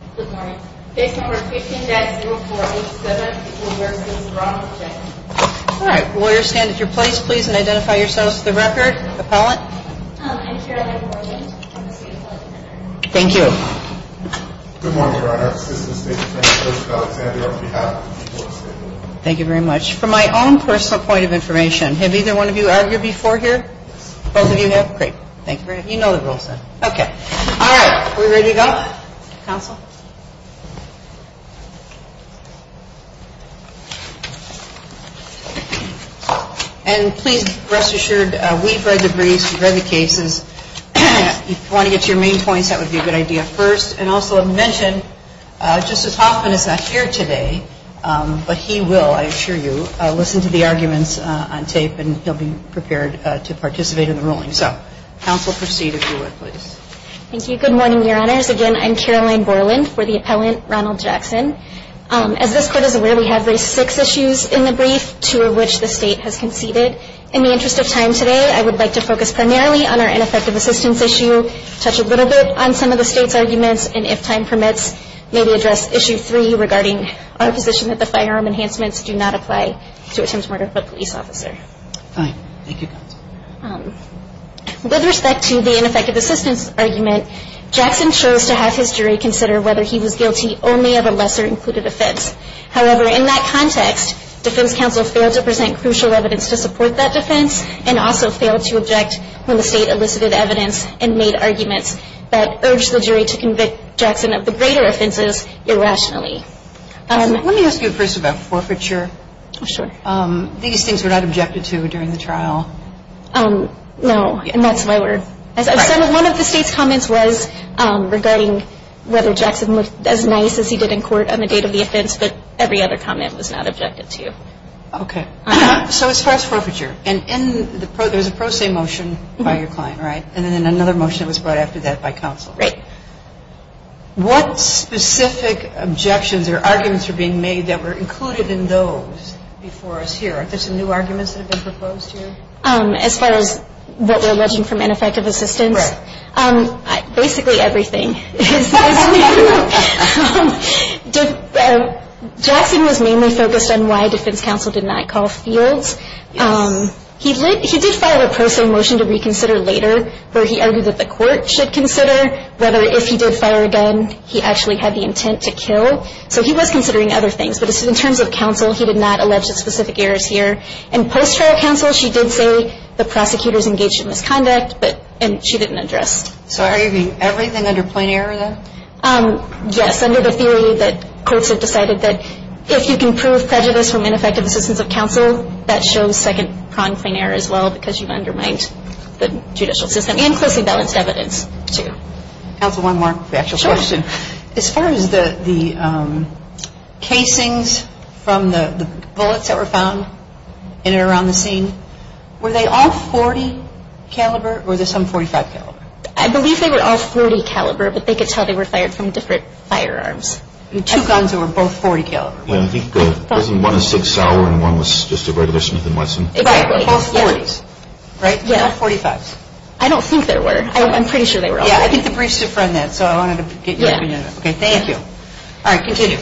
All right, lawyers stand at your place please and identify yourselves to the record, appellant. I'm Carolyn Gordon, I'm a state law defender. Thank you. Good morning, Your Honor. Assistant State Attorney Joseph Alexander on behalf of the people of the state. Thank you very much. From my own personal point of information, have either one of you argued before here? Yes. Both of you have? Great. Thank you very much. You know the rules then. Okay. All right. Are we ready to go? Counsel? And please rest assured, we've read the briefs, we've read the cases. If you want to get to your main points, that would be a good idea first. And also I mentioned, Justice Hoffman is not here today, but he will, I assure you. Listen to the arguments on tape and he'll be prepared to participate in the ruling. So, counsel, proceed if you would please. Thank you. Good morning, Your Honors. Again, I'm Carolyn Borland for the appellant, Ronald Jackson. As this court is aware, we have raised six issues in the brief, two of which the state has conceded. In the interest of time today, I would like to focus primarily on our ineffective assistance issue, touch a little bit on some of the state's arguments, and if time permits, maybe address issue three regarding our position that the firearm enhancements do not apply to attempted murder of a police officer. Fine. Thank you, counsel. With respect to the ineffective assistance argument, Jackson chose to have his jury consider whether he was guilty only of a lesser included offense. However, in that context, defense counsel failed to present crucial evidence to support that defense and also failed to object when the state elicited evidence and made arguments that urged the jury to convict Jackson of the greater offenses irrationally. Let me ask you first about forfeiture. Sure. These things were not objected to during the trial? No, and that's why we're – Right. One of the state's comments was regarding whether Jackson looked as nice as he did in court on the date of the offense, but every other comment was not objected to. Okay. So as far as forfeiture, and in the – there's a pro se motion by your client, right? And then another motion was brought after that by counsel. Right. What specific objections or arguments are being made that were included in those before us here? Are there some new arguments that have been proposed here? As far as what we're alleging from ineffective assistance? Right. Basically everything. Jackson was mainly focused on why defense counsel did not call fields. He did file a pro se motion to reconsider later where he argued that the court should consider whether if he did fire a gun, he actually had the intent to kill. So he was considering other things. But in terms of counsel, he did not allege specific errors here. And post-trial counsel, she did say the prosecutors engaged in misconduct, but – and she didn't address. So are you arguing everything under plain error, then? Yes, under the theory that courts have decided that if you can prove prejudice from ineffective assistance of counsel, that shows second-pronged plain error as well because you've undermined the judicial system and closely balanced evidence, too. Counsel, one more actual question. Sure. As far as the casings from the bullets that were found in and around the scene, were they all .40 caliber or were there some .45 caliber? I believe they were all .40 caliber, but they could tell they were fired from different firearms. Two guns that were both .40 caliber. I think one was .60 and one was just a regular Smith & Wesson. Right. Both .40s, right? Yeah. And no .45s. I don't think there were. I'm pretty sure they were all .40s. Yeah, I think the briefs define that, so I wanted to get your opinion on that. Yeah. Okay, thank you. All right, continue.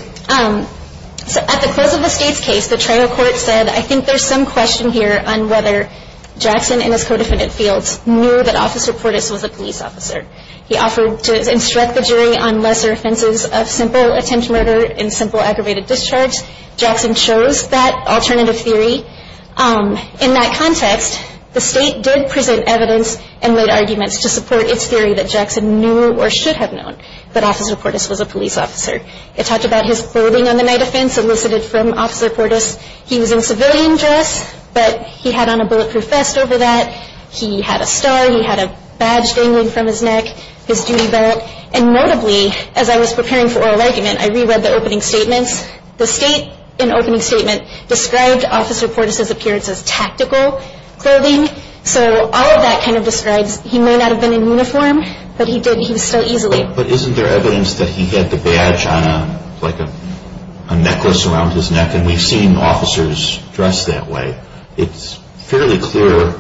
So at the close of the State's case, the trial court said, I think there's some question here on whether Jackson and his co-defendant Fields knew that Officer Portis was a police officer. He offered to instruct the jury on lesser offenses of simple attempt murder and simple aggravated discharge. Jackson chose that alternative theory. In that context, the State did present evidence and laid arguments to support its theory that Jackson knew or should have known that Officer Portis was a police officer. It talked about his clothing on the night of offense elicited from Officer Portis. He was in civilian dress, but he had on a bulletproof vest over that. He had a star. He had a badge dangling from his neck, his duty belt. And notably, as I was preparing for oral argument, I reread the opening statements. The State, in opening statement, described Officer Portis' appearance as tactical clothing. So all of that kind of describes he may not have been in uniform, but he was still easily. But isn't there evidence that he had the badge on, like a necklace around his neck, and we've seen officers dressed that way? It's fairly clear,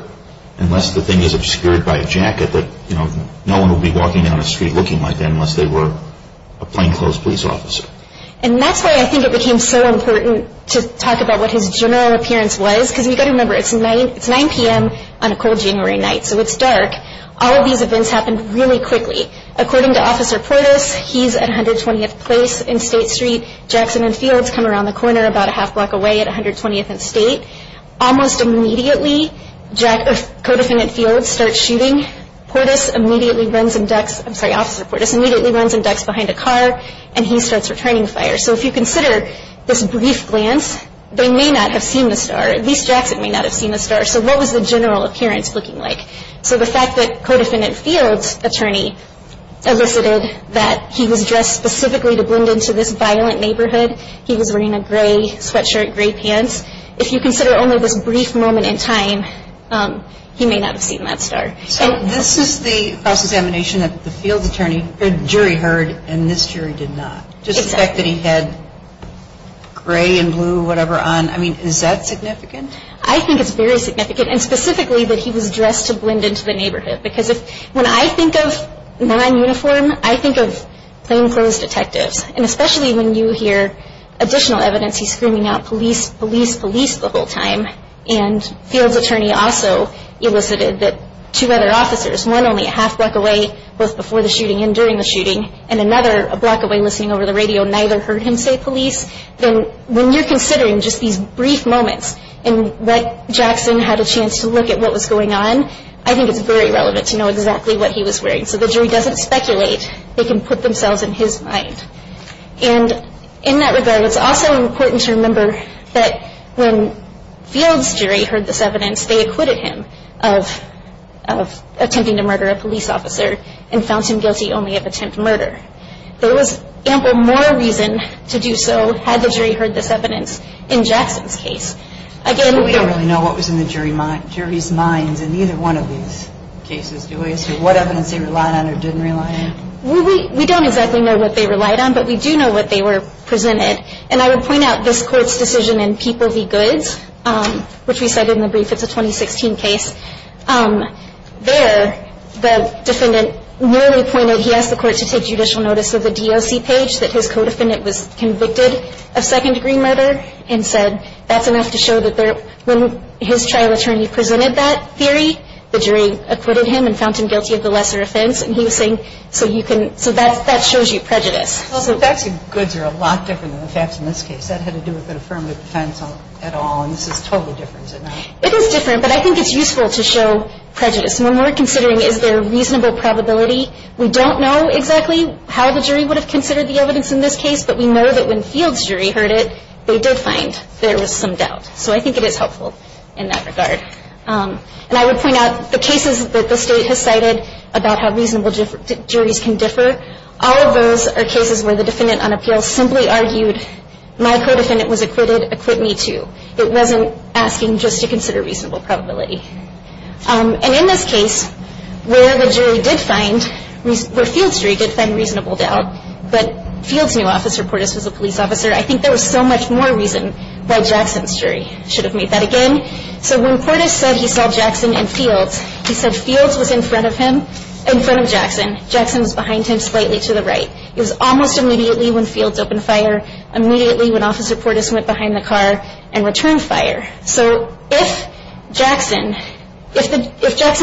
unless the thing is obscured by a jacket, that no one would be walking down the street looking like that unless they were a plainclothes police officer. And that's why I think it became so important to talk about what his general appearance was, because you've got to remember it's 9 p.m. on a cold January night, so it's dark. All of these events happened really quickly. According to Officer Portis, he's at 120th Place in State Street. Jackson and Fields come around the corner about a half block away at 120th and State. Almost immediately, Codefendant Fields starts shooting. Officer Portis immediately runs and ducks behind a car, and he starts returning fire. So if you consider this brief glance, they may not have seen the star. At least Jackson may not have seen the star. So what was the general appearance looking like? So the fact that Codefendant Fields' attorney elicited that he was dressed specifically to blend into this violent neighborhood, he was wearing a gray sweatshirt, gray pants. If you consider only this brief moment in time, he may not have seen that star. So this is the cross-examination that the Field's jury heard, and this jury did not. Just the fact that he had gray and blue, whatever, on, I mean, is that significant? I think it's very significant, and specifically that he was dressed to blend into the neighborhood. Because when I think of non-uniform, I think of plainclothes detectives. And especially when you hear additional evidence, he's screaming out, police, police, police, the whole time. And Fields' attorney also elicited that two other officers, one only a half block away, both before the shooting and during the shooting, and another a block away listening over the radio, neither heard him say police. Then when you're considering just these brief moments in which Jackson had a chance to look at what was going on, I think it's very relevant to know exactly what he was wearing. So the jury doesn't speculate. They can put themselves in his mind. And in that regard, it's also important to remember that when Field's jury heard this evidence, they acquitted him of attempting to murder a police officer and found him guilty only of attempt murder. There was ample moral reason to do so had the jury heard this evidence in Jackson's case. Again, we don't really know what was in the jury's minds in either one of these cases. So what evidence they relied on or didn't rely on? We don't exactly know what they relied on, but we do know what they were presented. And I would point out this court's decision in People v. Goods, which we cited in the brief. It's a 2016 case. There, the defendant merely pointed, he asked the court to take judicial notice of the DOC page that his co-defendant was convicted of second-degree murder and said that's enough to show that when his trial attorney presented that theory, the jury acquitted him and found him guilty of the lesser offense. And he was saying, so that shows you prejudice. Well, the facts in Goods are a lot different than the facts in this case. That had to do with the affirmative defense at all, and this is totally different. It is different, but I think it's useful to show prejudice. When we're considering is there a reasonable probability, we don't know exactly how the jury would have considered the evidence in this case, but we know that when Field's jury heard it, they did find there was some doubt. So I think it is helpful in that regard. And I would point out the cases that the state has cited about how reasonable juries can differ, all of those are cases where the defendant on appeal simply argued, my co-defendant was acquitted, acquit me too. It wasn't asking just to consider reasonable probability. And in this case, where the jury did find, where Field's jury did find reasonable doubt, but Field's new officer, Portis, was a police officer, I think there was so much more reason why Jackson's jury should have made that again. So when Portis said he saw Jackson in Fields, he said Fields was in front of him, in front of Jackson. Jackson was behind him slightly to the right. It was almost immediately when Fields opened fire, immediately when Officer Portis went behind the car and returned fire. So if Jackson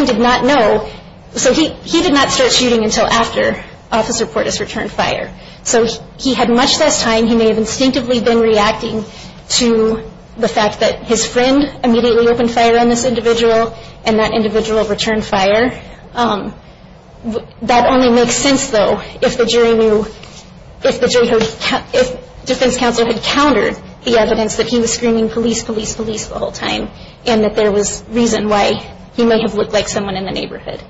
did not know, so he did not start shooting until after Officer Portis returned fire. So he had much less time. He may have instinctively been reacting to the fact that his friend immediately opened fire on this individual and that individual returned fire. That only makes sense, though, if the jury knew, if the defense counsel had countered the evidence that he was screaming police, police, police the whole time and that there was reason why he may have looked like someone in the neighborhood.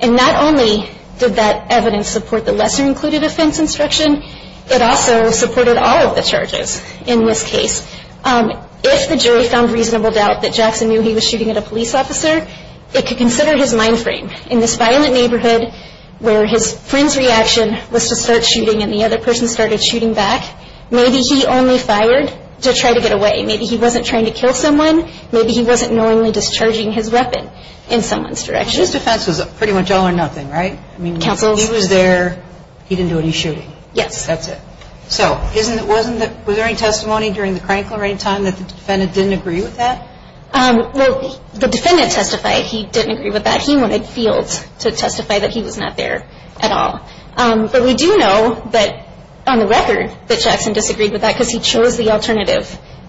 And not only did that evidence support the lesser included offense instruction, it also supported all of the charges in this case. If the jury found reasonable doubt that Jackson knew he was shooting at a police officer, it could consider his mind frame. In this violent neighborhood where his friend's reaction was to start shooting and the other person started shooting back, maybe he only fired to try to get away. Maybe he wasn't trying to kill someone. Maybe he wasn't knowingly discharging his weapon in someone's direction. So his defense was pretty much all or nothing, right? I mean, he was there. He didn't do any shooting. Yes. That's it. So was there any testimony during the crank or any time that the defendant didn't agree with that? Well, the defendant testified he didn't agree with that. He went to field to testify that he was not there at all. But we do know that on the record that Jackson disagreed with that because he chose the alternative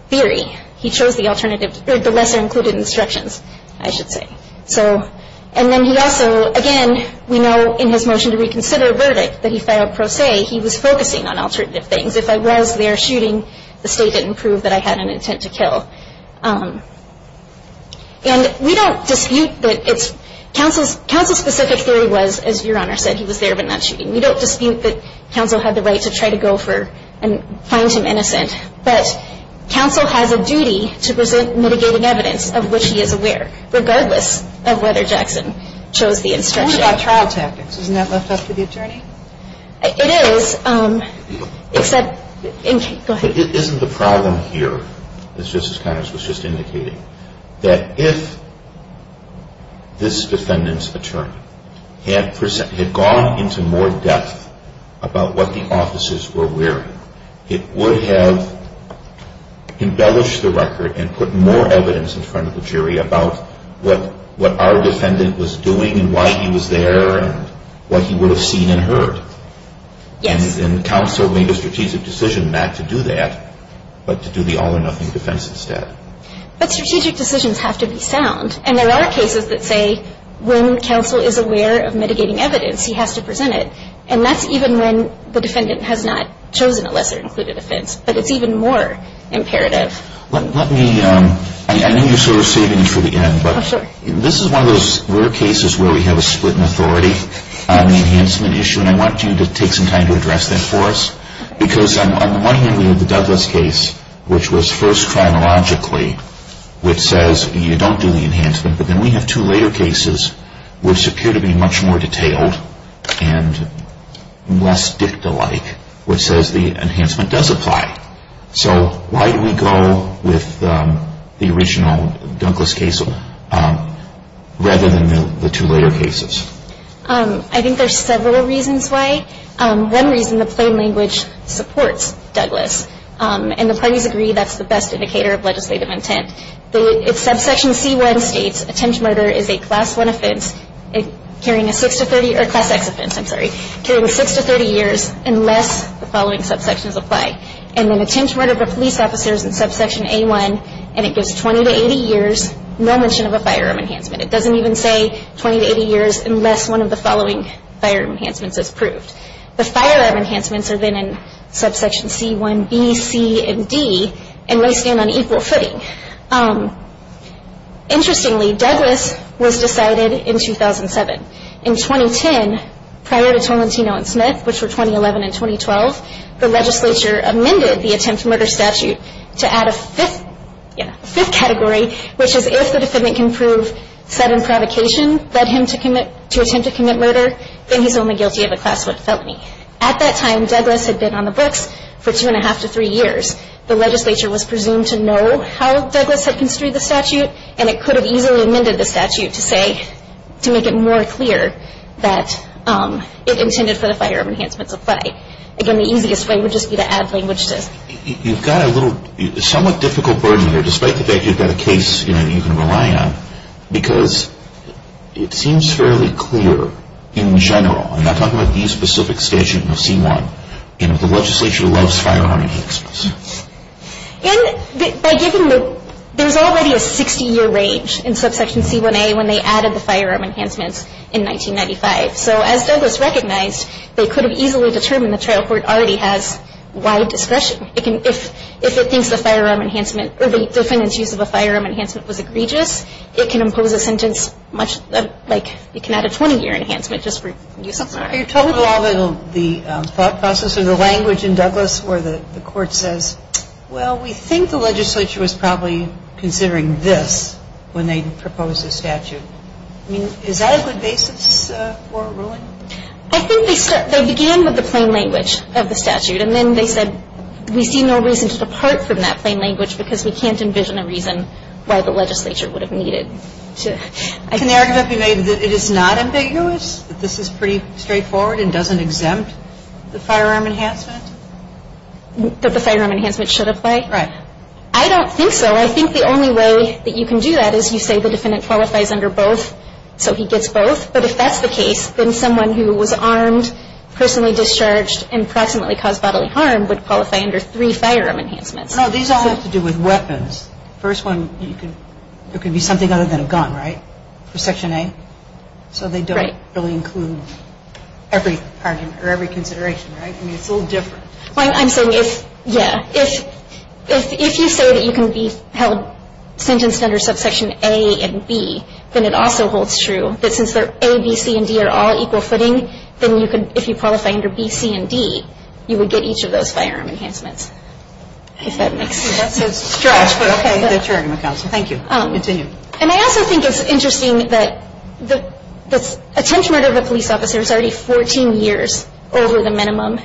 theory. He chose the lesser included instructions, I should say. So and then he also, again, we know in his motion to reconsider a verdict that he filed pro se, he was focusing on alternative things. If I was there shooting, the state didn't prove that I had an intent to kill. And we don't dispute that it's counsel's specific theory was, as Your Honor said, he was there but not shooting. We don't dispute that counsel had the right to try to go for and find him innocent. But counsel has a duty to present mitigating evidence of which he is aware, regardless of whether Jackson chose the instruction. What about trial tactics? Isn't that left up to the attorney? It is, except, go ahead. Isn't the problem here, as Justice Conners was just indicating, that if this defendant's attorney had gone into more depth about what the officers were wearing, it would have embellished the record and put more evidence in front of the jury about what our defendant was doing and why he was there and what he would have seen and heard. Yes. And counsel made a strategic decision not to do that, but to do the all or nothing defense instead. But strategic decisions have to be sound. And there are cases that say when counsel is aware of mitigating evidence, he has to present it. And that's even when the defendant has not chosen a lesser included offense. But it's even more imperative. Let me, I know you're sort of saving me for the end. Oh, sure. But this is one of those rare cases where we have a split in authority on the enhancement issue. And I want you to take some time to address that for us. Because on the one hand, we have the Douglas case, which was first chronologically, which says you don't do the enhancement. But then we have two later cases, which appear to be much more detailed. And less dicta-like, which says the enhancement does apply. So why do we go with the original Douglas case rather than the two later cases? I think there's several reasons why. One reason, the plain language supports Douglas. And the parties agree that's the best indicator of legislative intent. Subsection C1 states, attempt to murder is a Class 1 offense carrying a 6 to 30, or Class X offense, I'm sorry, carrying 6 to 30 years unless the following subsections apply. And then attempt to murder of a police officer is in subsection A1, and it goes 20 to 80 years, no mention of a firearm enhancement. It doesn't even say 20 to 80 years unless one of the following firearm enhancements is proved. The firearm enhancements are then in subsection C1B, C, and D, and they stand on equal footing. Interestingly, Douglas was decided in 2007. In 2010, prior to Tolentino and Smith, which were 2011 and 2012, the legislature amended the attempt to murder statute to add a fifth category, which is if the defendant can prove sudden provocation led him to attempt to commit murder, then he's only guilty of a Class 1 felony. At that time, Douglas had been on the books for two and a half to three years. The legislature was presumed to know how Douglas had construed the statute, and it could have easily amended the statute to say, to make it more clear that it intended for the firearm enhancements to apply. Again, the easiest way would just be to add language to it. You've got a little, somewhat difficult burden here, despite the fact you've got a case you can rely on, because it seems fairly clear in general, and I'm talking about the specific statute in C1, the legislature loves firearm enhancements. There's already a 60-year range in subsection C1A when they added the firearm enhancements in 1995, so as Douglas recognized, they could have easily determined the trial court already has wide discretion. If it thinks the firearm enhancement, or the defendant's use of a firearm enhancement was egregious, it can impose a sentence much like, it can add a 20-year enhancement just for use of a firearm. Are you talking about the thought process or the language in Douglas where the court says, well, we think the legislature was probably considering this when they proposed the statute? I mean, is that a good basis for a ruling? I think they began with the plain language of the statute, and then they said, we see no reason to depart from that plain language, because we can't envision a reason why the legislature would have needed to. Can the argument be made that it is not ambiguous, that this is pretty straightforward and doesn't exempt the firearm enhancement? That the firearm enhancement should apply? Right. I don't think so. I think the only way that you can do that is you say the defendant qualifies under both, so he gets both, but if that's the case, then someone who was armed, personally discharged, and proximately caused bodily harm would qualify under three firearm enhancements. No, these all have to do with weapons. First one, it could be something other than a gun, right, for Section A? Right. So they don't really include every argument or every consideration, right? I mean, it's a little different. Well, I'm saying if, yeah, if you say that you can be held sentenced under subsection A and B, then it also holds true that since A, B, C, and D are all equal footing, then if you qualify under B, C, and D, you would get each of those firearm enhancements. If that makes sense. That's a stretch, but okay. Thank you. Continue. And I also think it's interesting that the attempted murder of a police officer is already 14 years over the minimum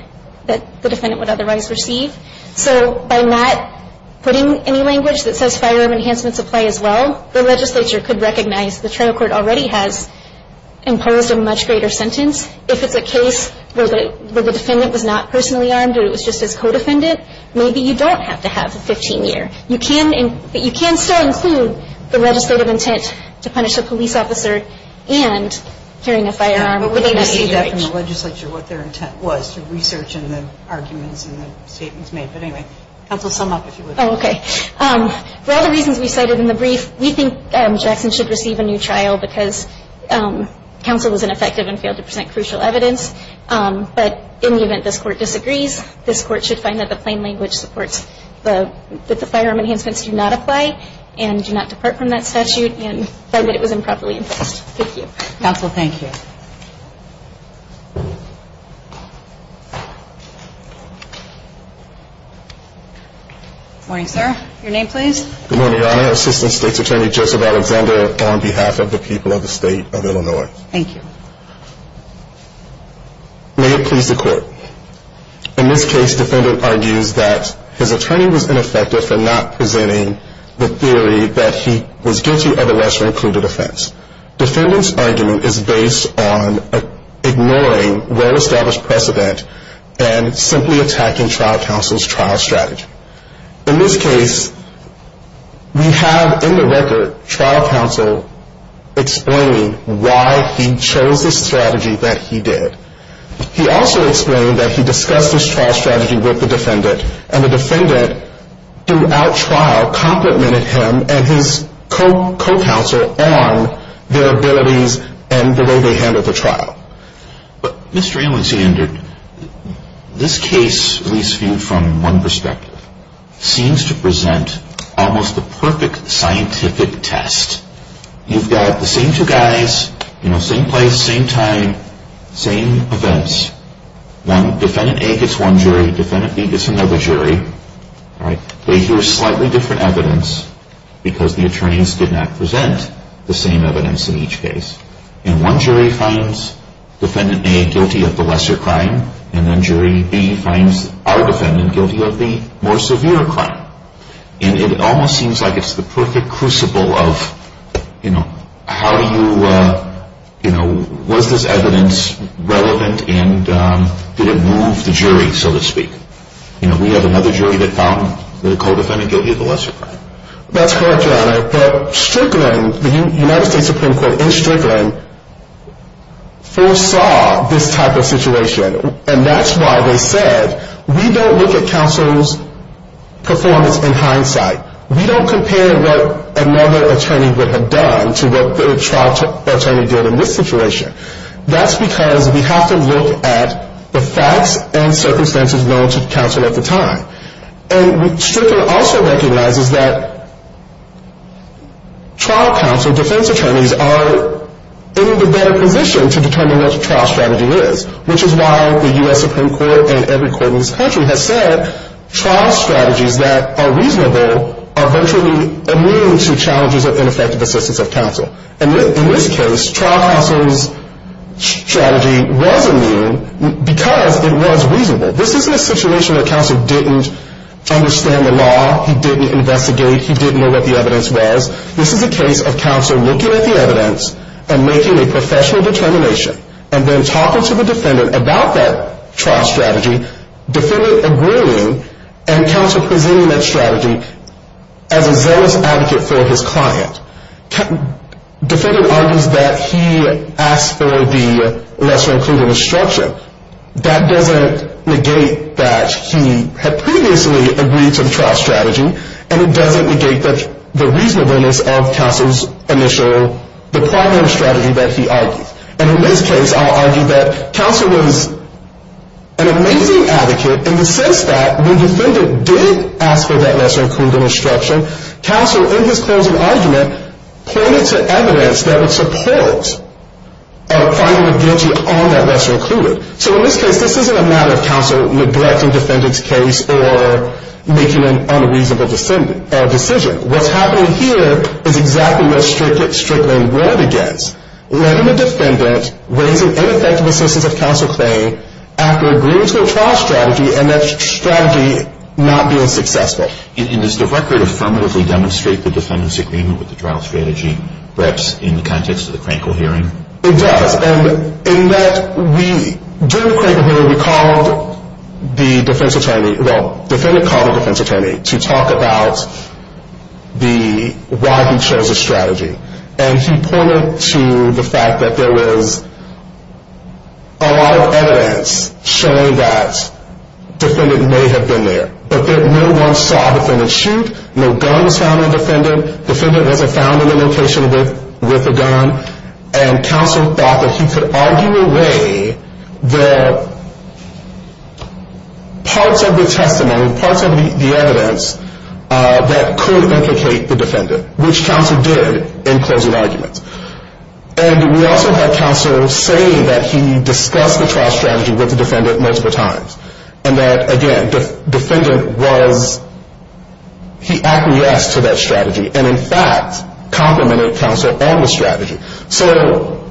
that the defendant would otherwise receive. So by not putting any language that says firearm enhancements apply as well, the legislature could recognize the trial court already has imposed a much greater sentence. If it's a case where the defendant was not personally armed or it was just as co-defendant, maybe you don't have to have a 15-year. You can still include the legislative intent to punish a police officer and carrying a firearm. But we didn't see that from the legislature, what their intent was, through research and the arguments and the statements made. But anyway, counsel, sum up if you would. Oh, okay. For all the reasons we cited in the brief, we think Jackson should receive a new trial because counsel was ineffective and failed to present crucial evidence. But in the event this court disagrees, this court should find that the plain language supports that the firearm enhancements do not apply and do not depart from that statute and find that it was improperly imposed. Thank you. Counsel, thank you. Morning, sir. Your name, please. Good morning, Your Honor. Assistant State's Attorney Joseph Alexander on behalf of the people of the State of Illinois. Thank you. May it please the Court. In this case, defendant argues that his attorney was ineffective for not presenting the theory that he was guilty of a lesser-included offense. Defendant's argument is based on ignoring well-established precedent and simply attacking trial counsel's trial strategy. In this case, we have in the record trial counsel explaining why he chose this strategy that he did. He also explained that he discussed this trial strategy with the defendant, and the defendant throughout trial complimented him and his co-counsel on their abilities and the way they handled the trial. But Mr. Alexander, this case, at least viewed from one perspective, seems to present almost the perfect scientific test. You've got the same two guys, same place, same time, same events. Defendant A gets one jury. Defendant B gets another jury. They hear slightly different evidence because the attorneys did not present the same evidence in each case. And one jury finds Defendant A guilty of the lesser crime, and then Jury B finds our defendant guilty of the more severe crime. And it almost seems like it's the perfect crucible of, you know, how do you, you know, was this evidence relevant and did it move the jury, so to speak? You know, we have another jury that found the co-defendant guilty of the lesser crime. That's correct, Your Honor. But Strickland, the United States Supreme Court in Strickland, foresaw this type of situation, and that's why they said we don't look at counsel's performance in hindsight. We don't compare what another attorney would have done to what the trial attorney did in this situation. That's because we have to look at the facts and circumstances known to counsel at the time. And Strickland also recognizes that trial counsel defense attorneys are in the better position to determine what the trial strategy is, which is why the U.S. Supreme Court and every court in this country has said trial strategies that are reasonable are virtually immune to challenges of ineffective assistance of counsel. And in this case, trial counsel's strategy was immune because it was reasonable. This isn't a situation where counsel didn't understand the law, he didn't investigate, he didn't know what the evidence was. This is a case of counsel looking at the evidence and making a professional determination and then talking to the defendant about that trial strategy, defendant agreeing, and counsel presenting that strategy as a zealous advocate for his client. Defendant argues that he asked for the lesser-included instruction. That doesn't negate that he had previously agreed to the trial strategy, and it doesn't negate the reasonableness of counsel's initial, the primary strategy that he argued. And in this case, I'll argue that counsel was an amazing advocate in the sense that when defendant did ask for that lesser-included instruction, counsel, in his closing argument, pointed to evidence that would support finding the guilty on that lesser-included. So in this case, this isn't a matter of counsel neglecting defendant's case or making an unreasonable decision. What's happening here is exactly what Strickland warned against, letting the defendant raise an ineffective assistance of counsel claim after agreeing to a trial strategy and that strategy not being successful. And does the record affirmatively demonstrate the defendant's agreement with the trial strategy, perhaps in the context of the Crankle hearing? It does, and in that we, during the Crankle hearing, we called the defense attorney, well, defendant called the defense attorney to talk about the, why he chose the strategy. And he pointed to the fact that there was a lot of evidence showing that defendant may have been there, but that no one saw defendant shoot, no gun was found on defendant, defendant wasn't found in the location with the gun, and counsel thought that he could argue away the parts of the testimony, parts of the evidence that could implicate the defendant, which counsel did in closing arguments. And we also had counsel say that he discussed the trial strategy with the defendant multiple times, and that, again, defendant was, he acquiesced to that strategy, and in fact, complimented counsel on the strategy. So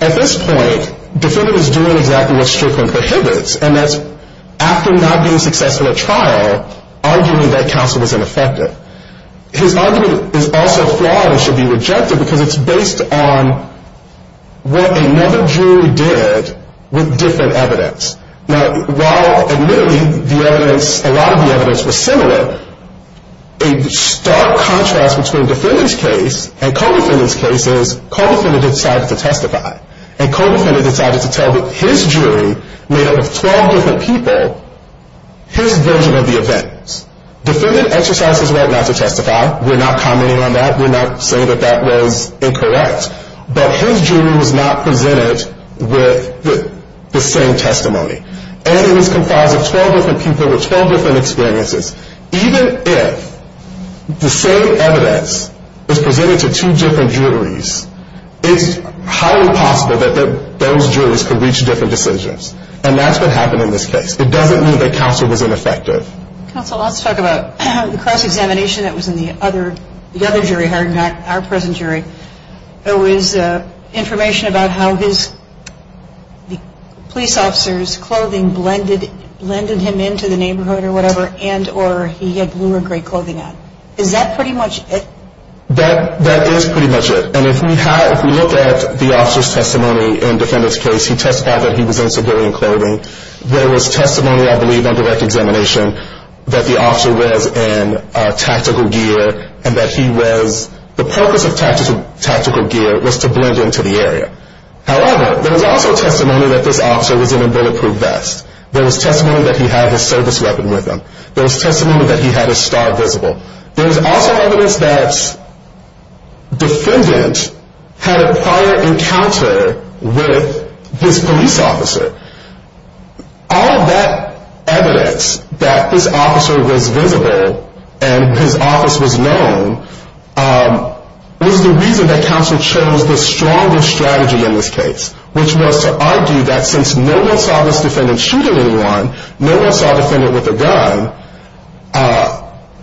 at this point, defendant is doing exactly what Strickland prohibits, and that's after not being successful at trial, arguing that counsel was ineffective. His argument is also flawed and should be rejected because it's based on what another jury did with different evidence. Now, while admittedly the evidence, a lot of the evidence was similar, a stark contrast between defendant's case and co-defendant's case is co-defendant decided to testify, and co-defendant decided to tell his jury, made up of 12 different people, his version of the events. Defendant exercised his right not to testify, we're not commenting on that, we're not saying that that was incorrect, but his jury was not presented with the same testimony. And it was comprised of 12 different people with 12 different experiences. Even if the same evidence is presented to two different juries, it's highly possible that those juries could reach different decisions, and that's what happened in this case. It doesn't mean that counsel was ineffective. Counsel, let's talk about the cross-examination that was in the other jury hiring back, our present jury. There was information about how the police officer's clothing blended him into the neighborhood or whatever, and or he had blue or gray clothing on. Is that pretty much it? That is pretty much it. And if we look at the officer's testimony in defendant's case, he testified that he was in civilian clothing. There was testimony, I believe, on direct examination that the officer was in tactical gear, and that he was, the purpose of tactical gear was to blend into the area. However, there was also testimony that this officer was in a bulletproof vest. There was testimony that he had his service weapon with him. There was testimony that he had his star visible. There was also evidence that defendant had a prior encounter with this police officer. All of that evidence that this officer was visible and his office was known, was the reason that counsel chose the stronger strategy in this case, which was to argue that since no one saw this defendant shooting anyone, no one saw defendant with a gun,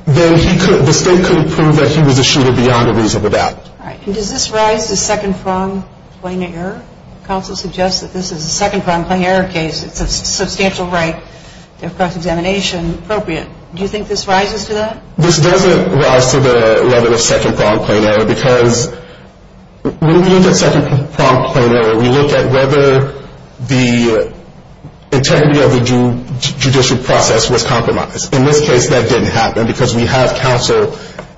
then the state couldn't prove that he was a shooter beyond a reasonable doubt. All right. And does this rise to second-pronged plain error? Counsel suggests that this is a second-pronged plain error case. It's a substantial right of cross-examination appropriate. Do you think this rises to that? This doesn't rise to the level of second-pronged plain error because when we look at second-pronged plain error, we look at whether the integrity of the judicial process was compromised. In this case, that didn't happen because we have counsel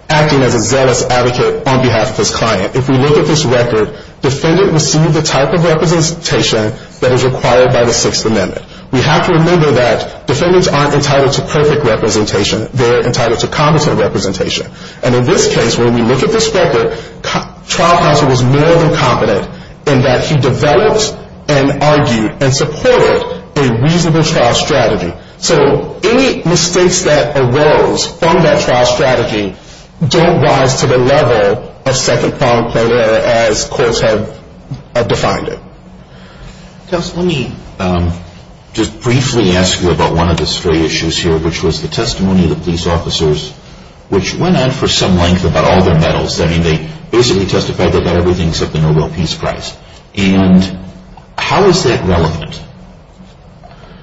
acting as a zealous advocate on behalf of his client. If we look at this record, defendant received the type of representation that is required by the Sixth Amendment. We have to remember that defendants aren't entitled to perfect representation. They're entitled to competent representation. And in this case, when we look at this record, trial counsel was more than competent in that he developed and argued and supported a reasonable trial strategy. So any mistakes that arose from that trial strategy don't rise to the level of second-pronged plain error as courts have defined it. Counsel, let me just briefly ask you about one of the stray issues here, which was the testimony of the police officers, which went on for some length about all their medals. I mean, they basically testified they got everything except the Nobel Peace Prize. And how is that relevant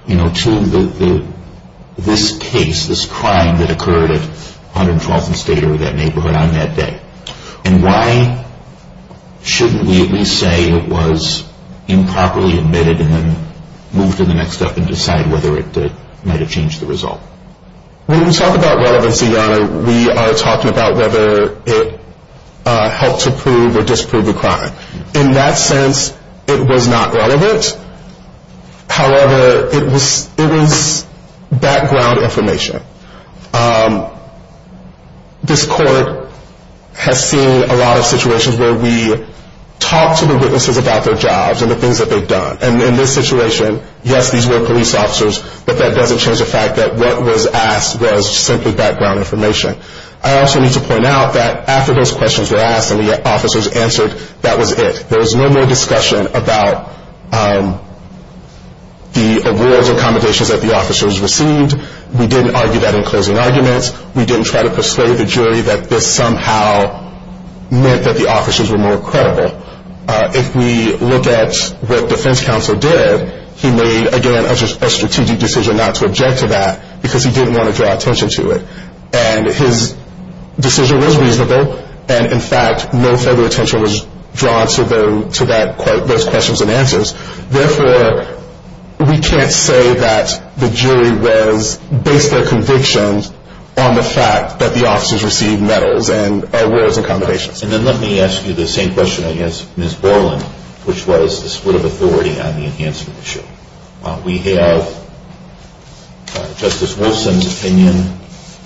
to this case, this crime that occurred at 112th and Stater, that neighborhood on that day? And why shouldn't we at least say it was improperly admitted and then move to the next step and decide whether it might have changed the result? When we talk about relevancy, Your Honor, we are talking about whether it helped to prove or disprove a crime. In that sense, it was not relevant. However, it was background information. This Court has seen a lot of situations where we talk to the witnesses about their jobs and the things that they've done. And in this situation, yes, these were police officers, but that doesn't change the fact that what was asked was simply background information. I also need to point out that after those questions were asked and the officers answered, that was it. There was no more discussion about the awards or accommodations that the officers received. We didn't argue that in closing arguments. We didn't try to persuade the jury that this somehow meant that the officers were more credible. If we look at what defense counsel did, he made, again, a strategic decision not to object to that because he didn't want to draw attention to it. And his decision was reasonable. And, in fact, no further attention was drawn to those questions and answers. Therefore, we can't say that the jury was based their convictions on the fact that the officers received medals and awards and accommodations. And then let me ask you the same question, I guess, Ms. Borland, which was the split of authority on the enhancement issue. We have Justice Wilson's opinion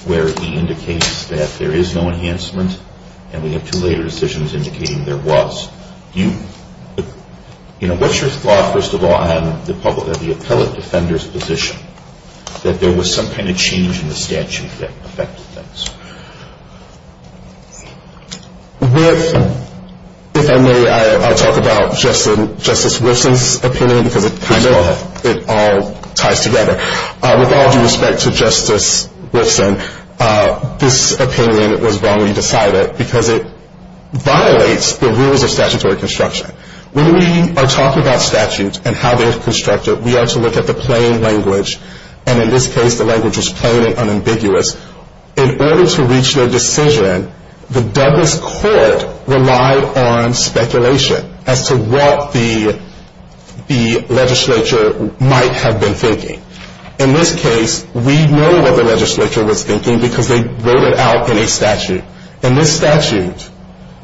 where he indicates that there is no enhancement, and we have two later decisions indicating there was. What's your thought, first of all, on the public defender's position that there was some kind of change in the statute that affected things? If I may, I'll talk about Justice Wilson's opinion because it all ties together. With all due respect to Justice Wilson, this opinion was wrongly decided because it violates the rules of statutory construction. When we are talking about statutes and how they're constructed, we are to look at the plain language. And in this case, the language was plain and unambiguous. In order to reach their decision, the Douglas Court relied on speculation as to what the legislature might have been thinking. In this case, we know what the legislature was thinking because they wrote it out in a statute. In this statute,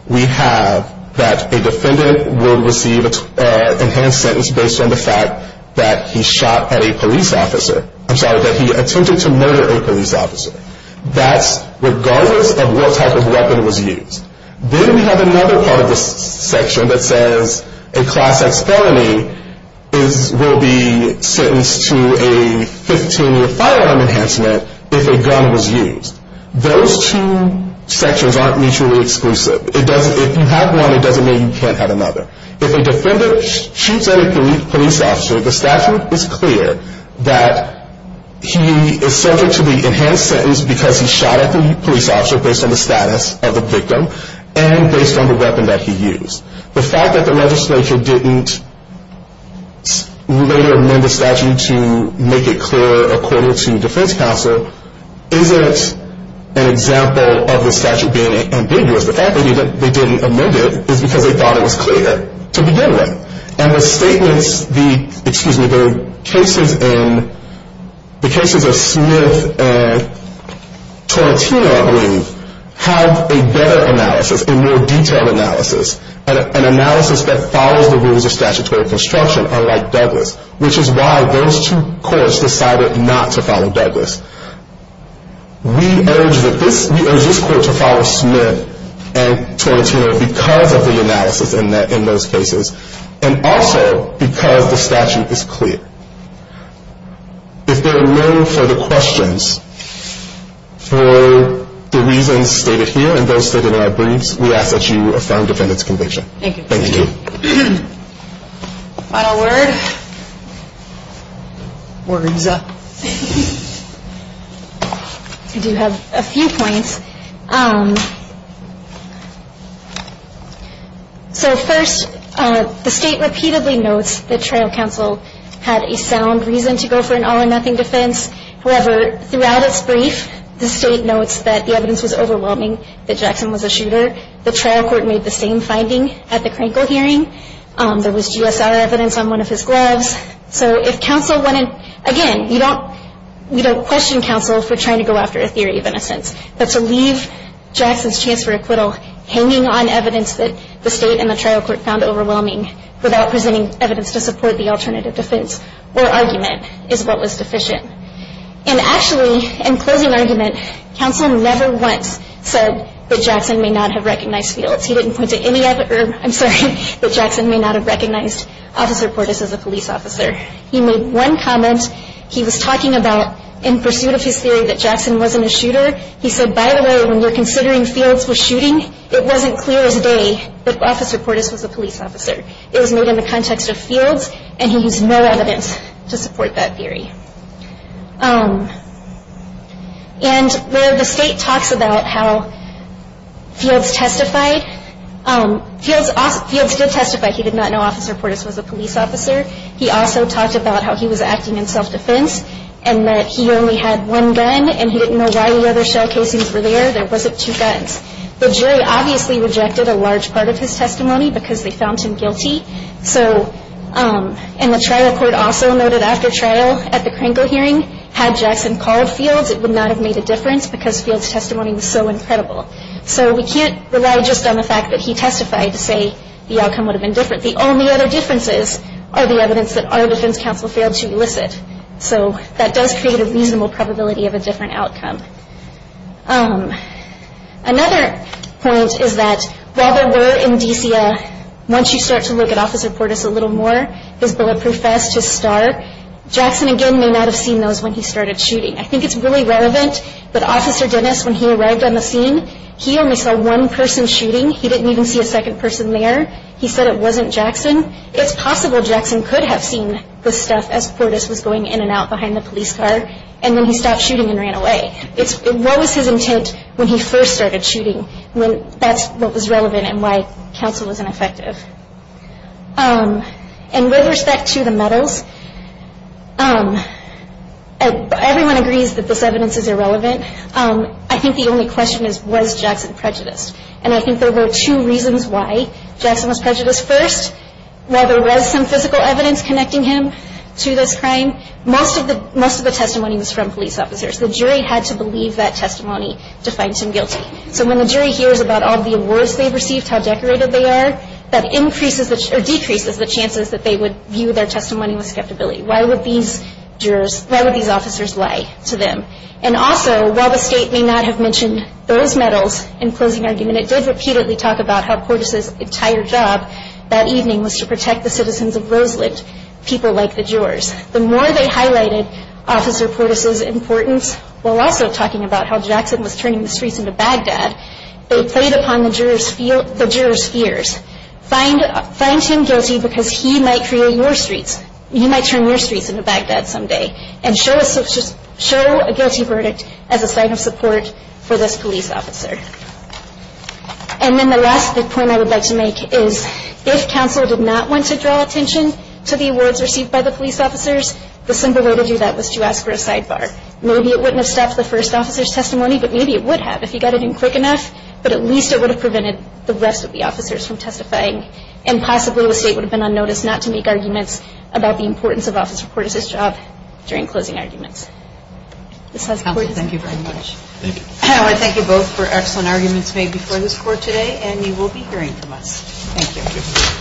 we have that a defendant will receive an enhanced sentence based on the fact that he shot at a police officer. I'm sorry, that he attempted to murder a police officer. That's regardless of what type of weapon was used. Then we have another part of this section that says a Class X felony will be sentenced to a 15-year firearm enhancement if a gun was used. Those two sections aren't mutually exclusive. If you have one, it doesn't mean you can't have another. If a defendant shoots at a police officer, the statute is clear that he is subject to the enhanced sentence because he shot at the police officer based on the status of the victim and based on the weapon that he used. The fact that the legislature didn't later amend the statute to make it clear according to defense counsel isn't an example of the statute being ambiguous. The fact that they didn't amend it is because they thought it was clear to begin with. The cases of Smith and Torettino, I believe, have a better analysis, a more detailed analysis, an analysis that follows the rules of statutory construction, unlike Douglas, which is why those two courts decided not to follow Douglas. We urge this court to follow Smith and Torettino because of the analysis in those cases. And also because the statute is clear. If there are no further questions for the reasons stated here and those stated in our briefs, we ask that you affirm defendant's conviction. Thank you. Thank you. Final word? Words up. I do have a few points. So first, the state repeatedly notes that trial counsel had a sound reason to go for an all or nothing defense. However, throughout its brief, the state notes that the evidence was overwhelming, that Jackson was a shooter. The trial court made the same finding at the Krankel hearing. There was GSR evidence on one of his gloves. So if counsel went in, again, we don't question counsel for trying to go after a theory of innocence. But to leave Jackson's chance for acquittal hanging on evidence that the state and the trial court found overwhelming without presenting evidence to support the alternative defense or argument is what was deficient. And actually, in closing argument, counsel never once said that Jackson may not have recognized fields. He didn't point to any other, I'm sorry, that Jackson may not have recognized Officer Portis as a police officer. He made one comment. He was talking about in pursuit of his theory that Jackson wasn't a shooter. He said, by the way, when you're considering fields for shooting, it wasn't clear as day that Officer Portis was a police officer. It was made in the context of fields, and he used no evidence to support that theory. And where the state talks about how fields testified, fields did testify he did not know Officer Portis was a police officer. He also talked about how he was acting in self-defense and that he only had one gun and he didn't know why the other shell casings were there. There wasn't two guns. The jury obviously rejected a large part of his testimony because they found him guilty. So, and the trial court also noted after trial at the Kranko hearing, had Jackson called fields, it would not have made a difference because fields' testimony was so incredible. So we can't rely just on the fact that he testified to say the outcome would have been different. The only other differences are the evidence that our defense counsel failed to elicit. So that does create a reasonable probability of a different outcome. Another point is that while there were in DCA, once you start to look at Officer Portis a little more, his bulletproof vest, his star, Jackson again may not have seen those when he started shooting. I think it's really relevant that Officer Dennis, when he arrived on the scene, he only saw one person shooting. He didn't even see a second person there. He said it wasn't Jackson. It's possible Jackson could have seen the stuff as Portis was going in and out behind the police car, and then he stopped shooting and ran away. What was his intent when he first started shooting? That's what was relevant and why counsel was ineffective. And with respect to the medals, everyone agrees that this evidence is irrelevant. I think the only question is, was Jackson prejudiced? And I think there were two reasons why Jackson was prejudiced. First, while there was some physical evidence connecting him to this crime, most of the testimony was from police officers. The jury had to believe that testimony to find him guilty. So when the jury hears about all the awards they've received, how decorated they are, that decreases the chances that they would view their testimony with skeptic ability. Why would these officers lie to them? And also, while the state may not have mentioned those medals in closing argument, it did repeatedly talk about how Portis' entire job that evening was to protect the citizens of Roseland, people like the jurors. The more they highlighted Officer Portis' importance, while also talking about how Jackson was turning the streets into Baghdad, they played upon the jurors' fears. Find Tim guilty because he might create your streets. He might turn your streets into Baghdad someday. And show a guilty verdict as a sign of support for this police officer. And then the last point I would like to make is, if counsel did not want to draw attention to the awards received by the police officers, the simple way to do that was to ask for a sidebar. Maybe it wouldn't have stopped the first officer's testimony, but maybe it would have, if he got it in quick enough, but at least it would have prevented the rest of the officers from testifying. And possibly the state would have been on notice not to make arguments about the importance of Officer Portis' job during closing arguments. Thank you very much. Thank you. I want to thank you both for excellent arguments made before this court today, and you will be hearing from us. Thank you.